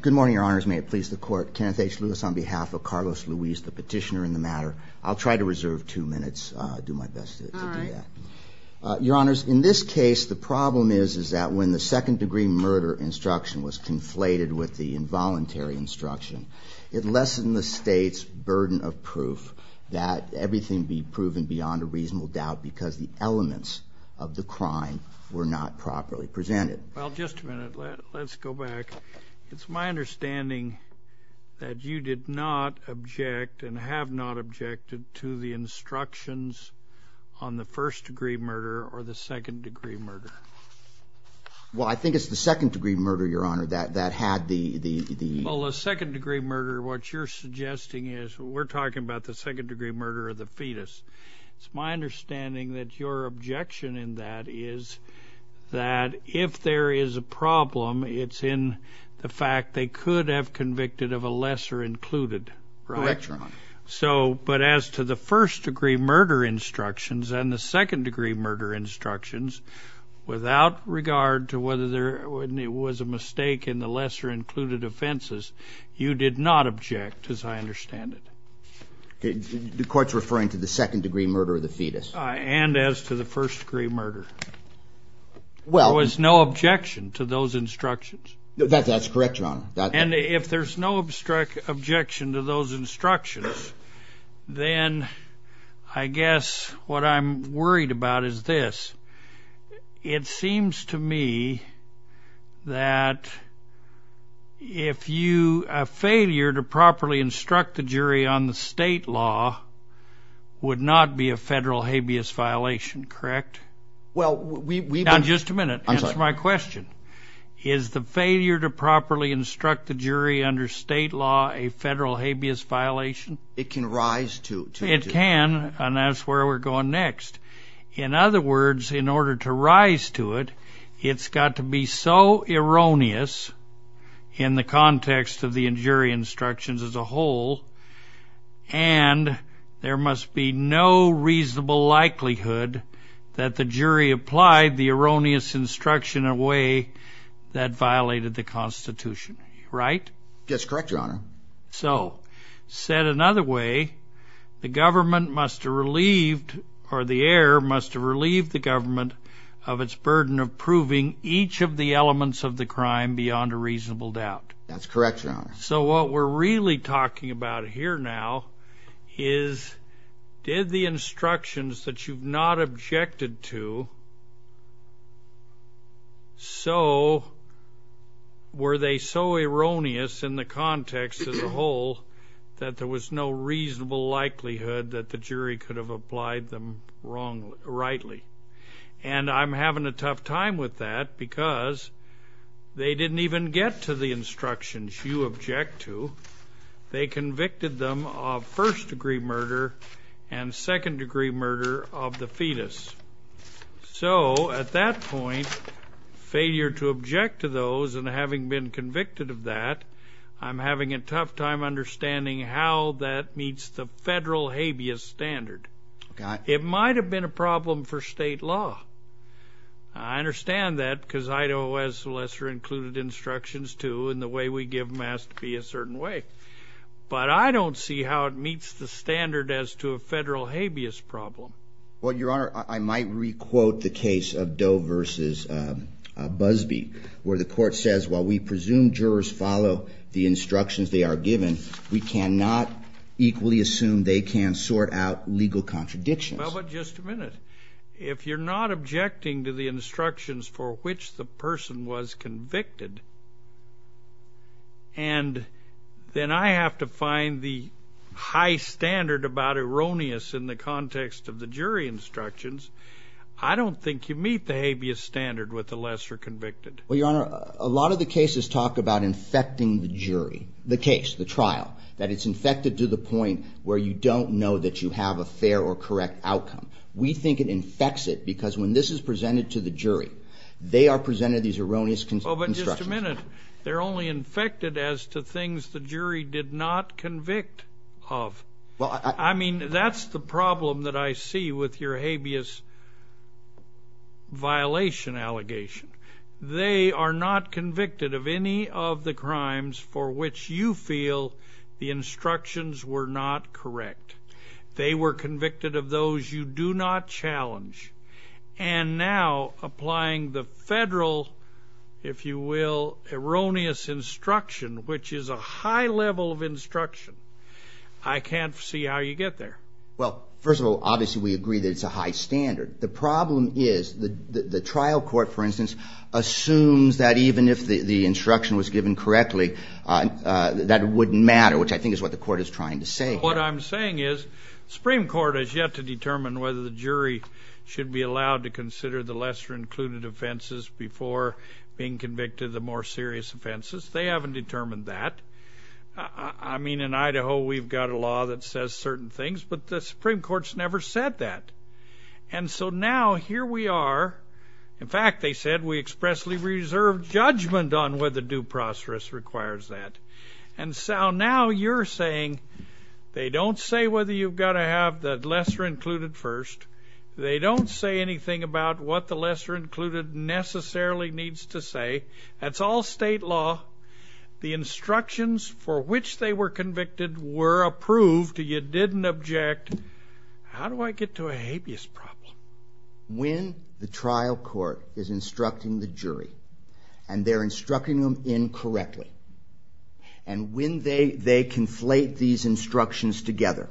Good morning, Your Honors. May it please the Court, Kenneth H. Luis on behalf of Carlos Luis, the petitioner in the matter. I'll try to reserve two minutes. I'll do my best to do that. Your Honors, in this case, the problem is that when the second degree murder instruction was conflated with the involuntary instruction, it lessened the State's burden of proof that everything be proven beyond a reasonable doubt because the elements of the crime were not properly presented. Well, just a minute. Let's go back. It's my understanding that you did not object and have not objected to the instructions on the first degree murder or the second degree murder. Well, I think it's the second degree murder, Your Honor, that had the... Well, the second degree murder, what you're suggesting is... We're talking about the second degree murder of the fetus. It's my understanding that your objection in that is that if there is a problem, it's in the fact they could have convicted of a lesser included, right? Correct, Your Honor. So, but as to the first degree murder instructions and the second degree murder instructions, without regard to whether there was a mistake in the lesser included offenses, you did not object, as I understand it. The Court's referring to the second degree murder of the fetus. And as to the first degree murder. There was no objection to those instructions. That's correct, Your Honor. And if there's no objection to those instructions, then I guess what I'm worried about is this. It seems to me that if you... A failure to properly instruct the jury on the state law would not be a federal habeas violation, correct? Well, we... Now, just a minute. Answer my question. Is the failure to properly instruct the jury under state law a federal habeas violation? It can rise to... It can, and that's where we're going next. In other words, in order to rise to it, it's got to be so erroneous in the context of the jury instructions as a whole, and there must be no reasonable likelihood that the jury applied the erroneous instruction in a way that violated the Constitution, right? That's correct, Your Honor. So, said another way, the government must have relieved, or the heir must have relieved the government of its burden of proving each of the elements of the crime beyond a reasonable doubt. That's correct, Your Honor. So, what we're really talking about here now is, did the instructions that you've not objected to, so, were they so erroneous in the context as a whole that there was no reasonable likelihood that the jury could have applied them wrongly... rightly? And I'm having a tough time with that because they didn't even get to the instructions you object to. They convicted them of first-degree murder and second-degree murder of the fetus. So, at that point, failure to object to those, and having been convicted of that, I'm having a tough time understanding how that meets the federal habeas standard. It might have been a problem for state law. I understand that because Idaho has lesser-included instructions too, and the way we give them has to be a certain way. But I don't see how it meets the standard as to a federal habeas problem. Well, Your Honor, I might re-quote the case of Doe v. Busby, where the court says, while we presume jurors follow the instructions they are given, we cannot equally assume they can sort out legal contradictions. Well, but just a minute. If you're not objecting to the instructions for which the person was convicted, and then I have to find the high standard about erroneous in the context of the case, how do you meet the habeas standard with the lesser convicted? Well, Your Honor, a lot of the cases talk about infecting the jury, the case, the trial, that it's infected to the point where you don't know that you have a fair or correct outcome. We think it infects it because when this is presented to the jury, they are presented these erroneous instructions. Well, but just a minute. They're only infected as to things the jury did not convict of. I mean, that's the problem that I see with your habeas violation allegation. They are not convicted of any of the crimes for which you feel the instructions were not correct. They were convicted of those you do not challenge. And now, applying the federal, if you will, erroneous instruction, which is a high level of instruction, I can't see how you get there. Well, first of all, obviously, we agree that it's a high standard. The problem is the trial court, for instance, assumes that even if the instruction was given correctly, that wouldn't matter, which I think is what the court is trying to say. What I'm saying is Supreme Court has yet to determine whether the jury should be allowed to consider the lesser included offenses before being convicted of the more serious offenses. They haven't determined that. I mean, in Idaho, we've got a law that says certain things, but the Supreme Court's never said that. And so now, here we are. In fact, they said we expressly reserve judgment on whether due process requires that. And so now, you're saying they don't say whether you've got to have the lesser included first. They don't say anything about what the lesser included necessarily needs to say. That's all state law. The instructions for which they were convicted were approved. You didn't object. How do I get to a habeas problem? When the trial court is instructing the jury, and they're instructing them incorrectly, and when they conflate these instructions together,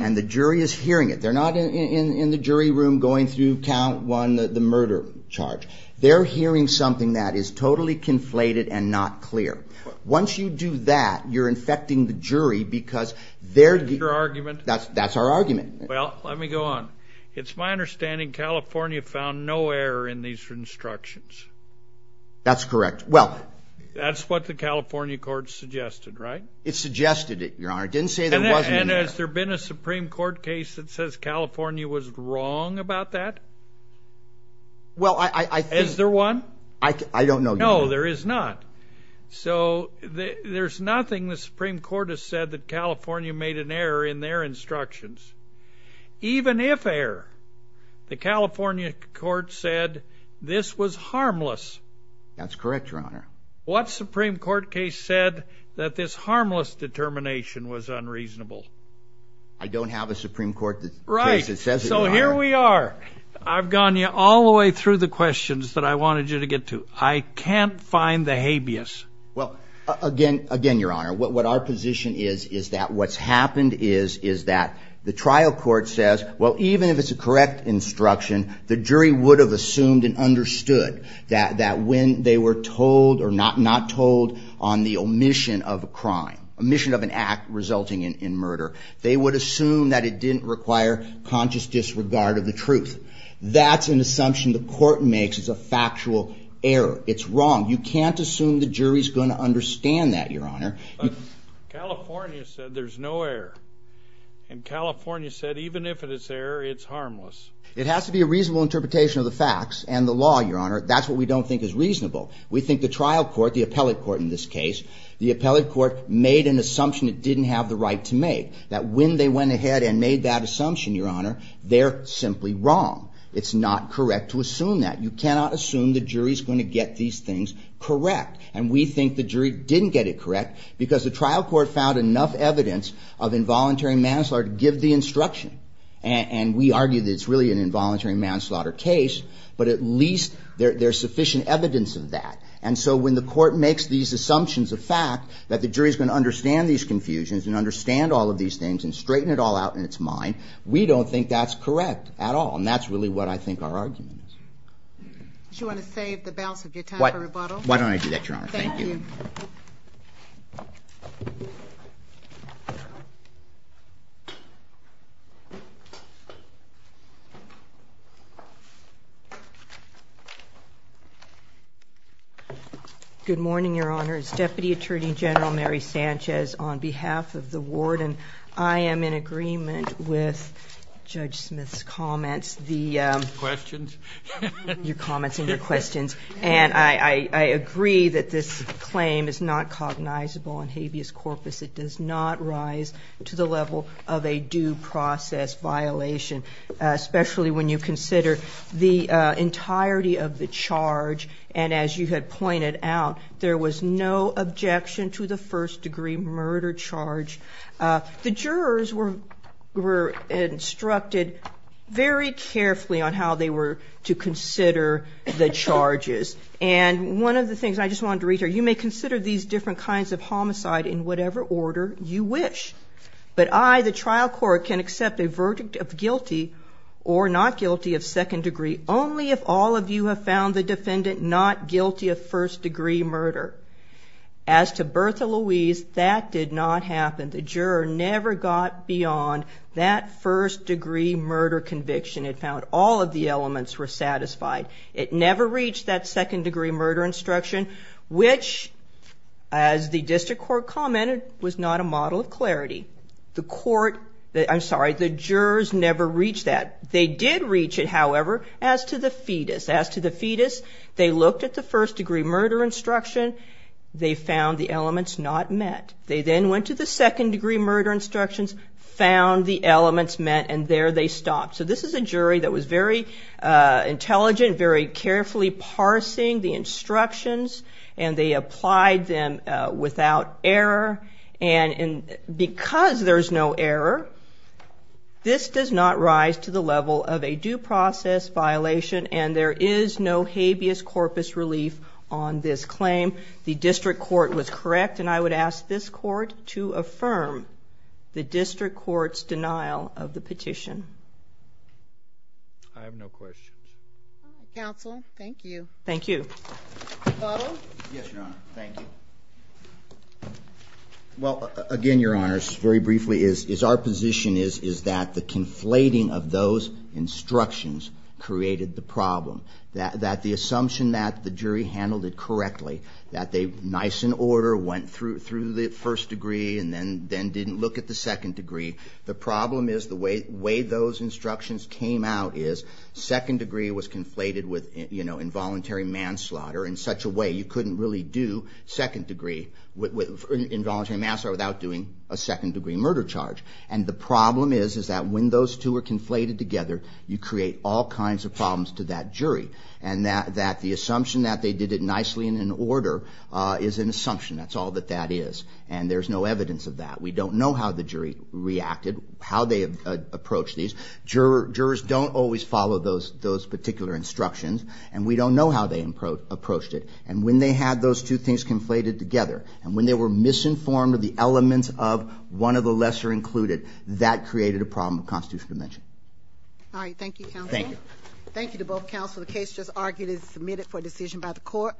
and the jury is hearing it, they're not in the jury room going through count one, the murder charge. They're hearing something that is totally conflated and not clear. Once you do that, you're infecting the jury, because they're... Your argument? That's our argument. Well, let me go on. It's my understanding California found no error in these instructions. That's correct. Well... That's what the California court suggested, right? It suggested it, Your Honor. It didn't say there wasn't an error. Has there been a Supreme Court case that says California was wrong about that? Well, I think... Is there one? I don't know, Your Honor. No, there is not. There's nothing the Supreme Court has said that California made an error in their instructions. Even if error, the California court said this was harmless. That's correct, Your Honor. What Supreme Court case said that this harmless determination was unreasonable? I don't have a Supreme Court case that says it, Your Honor. Right. So here we are. I've gone all the way through the questions that I wanted you to get to. I can't find the habeas. Well, again, Your Honor, what our position is, is that what's happened is that the trial court says, well, even if it's a correct instruction, the jury would have assumed and understood that when they were told or not told on the omission of a crime, omission of an act resulting in murder, they would assume that it didn't require conscious disregard of the truth. That's an assumption the court makes. It's a factual error. It's wrong. You can't assume the jury's going to understand that, Your Honor. California said there's no error. And California said even if it's error, it's harmless. It has to be a reasonable interpretation of the facts and the law, Your Honor. That's what we don't think is reasonable. We think the trial court, the appellate court in this case, the appellate court made an assumption it didn't have the right to make, that when they went ahead and made that assumption, Your Honor, they're simply wrong. It's not correct to assume that. You cannot assume the jury's going to get these things correct. And we think the jury didn't get it correct because the trial court found enough evidence of involuntary manslaughter to give the instruction. And we argue that it's really an involuntary manslaughter case, but at least there's sufficient evidence of that. And so when the court makes these assumptions of fact, that the jury's going to understand these confusions and understand all of these things and straighten it all out in its mind, we don't think that's correct at all. And that's really what I think our argument is. Do you want to save the balance of your time for rebuttal? Why don't I do that, Your Honor? Thank you. Good morning, Your Honor. It's Deputy Attorney General Mary Sanchez on behalf of the warden. I am in agreement with Judge Smith's comments, your comments and your questions. And I agree that this claim is not cognizable on habeas corpus. It does not rise to the level of a due process violation, especially when you consider the entirety of the charge. And as you had pointed out, there was no objection to the first degree murder charge. The jurors were instructed very carefully on how they were to consider the charges. And one of the things I just wanted to reiterate, you may consider these different kinds of homicide in whatever order you wish. But I, the trial court, can accept a verdict of guilty or not guilty of second degree only if all of you have found the defendant not guilty of first degree murder. As to Bertha Louise, that did not happen. The juror never got beyond that first degree murder conviction. It found all of the elements were satisfied. It never reached that second degree murder instruction, which, as the district court commented, was not a model of clarity. The court, I'm sorry, the jurors never reached that. They did reach it, however, as to the fetus. As to the fetus, they looked at the first degree murder instruction. They found the elements not met. They then went to the second degree murder instructions, found the elements met, and there they stopped. So this is a jury that was very intelligent, very carefully parsing the instructions, and they applied them without error. And because there's no error, this does not rise to the level of a due process violation, and there is no habeas corpus relief on this claim. The district court was correct, and I would ask this court to affirm the district court's denial of the petition. I have no questions. Counsel, thank you. Thank you. Butler? Yes, Your Honor. Thank you. Well, again, Your Honors, very briefly, our position is that the conflating of those instructions created the problem. That the assumption that the jury handled it correctly, that they were nice and order, went through the first degree, and then didn't look at the second degree. The problem is the way those instructions came out is second degree was conflated with involuntary manslaughter in such a way you couldn't really do involuntary manslaughter without doing a second degree murder charge. And the problem is that when those two are conflated together, you create all kinds of problems to that jury. And that the assumption that they did it nicely and in order is an evidence of that. We don't know how the jury reacted, how they approached these. Jurors don't always follow those particular instructions, and we don't know how they approached it. And when they had those two things conflated together, and when they were misinformed of the elements of one of the lesser included, that created a problem of constitutional dimension. All right, thank you, Counsel. Thank you. Thank you to both counsel. The case just argued is submitted for decision by the court.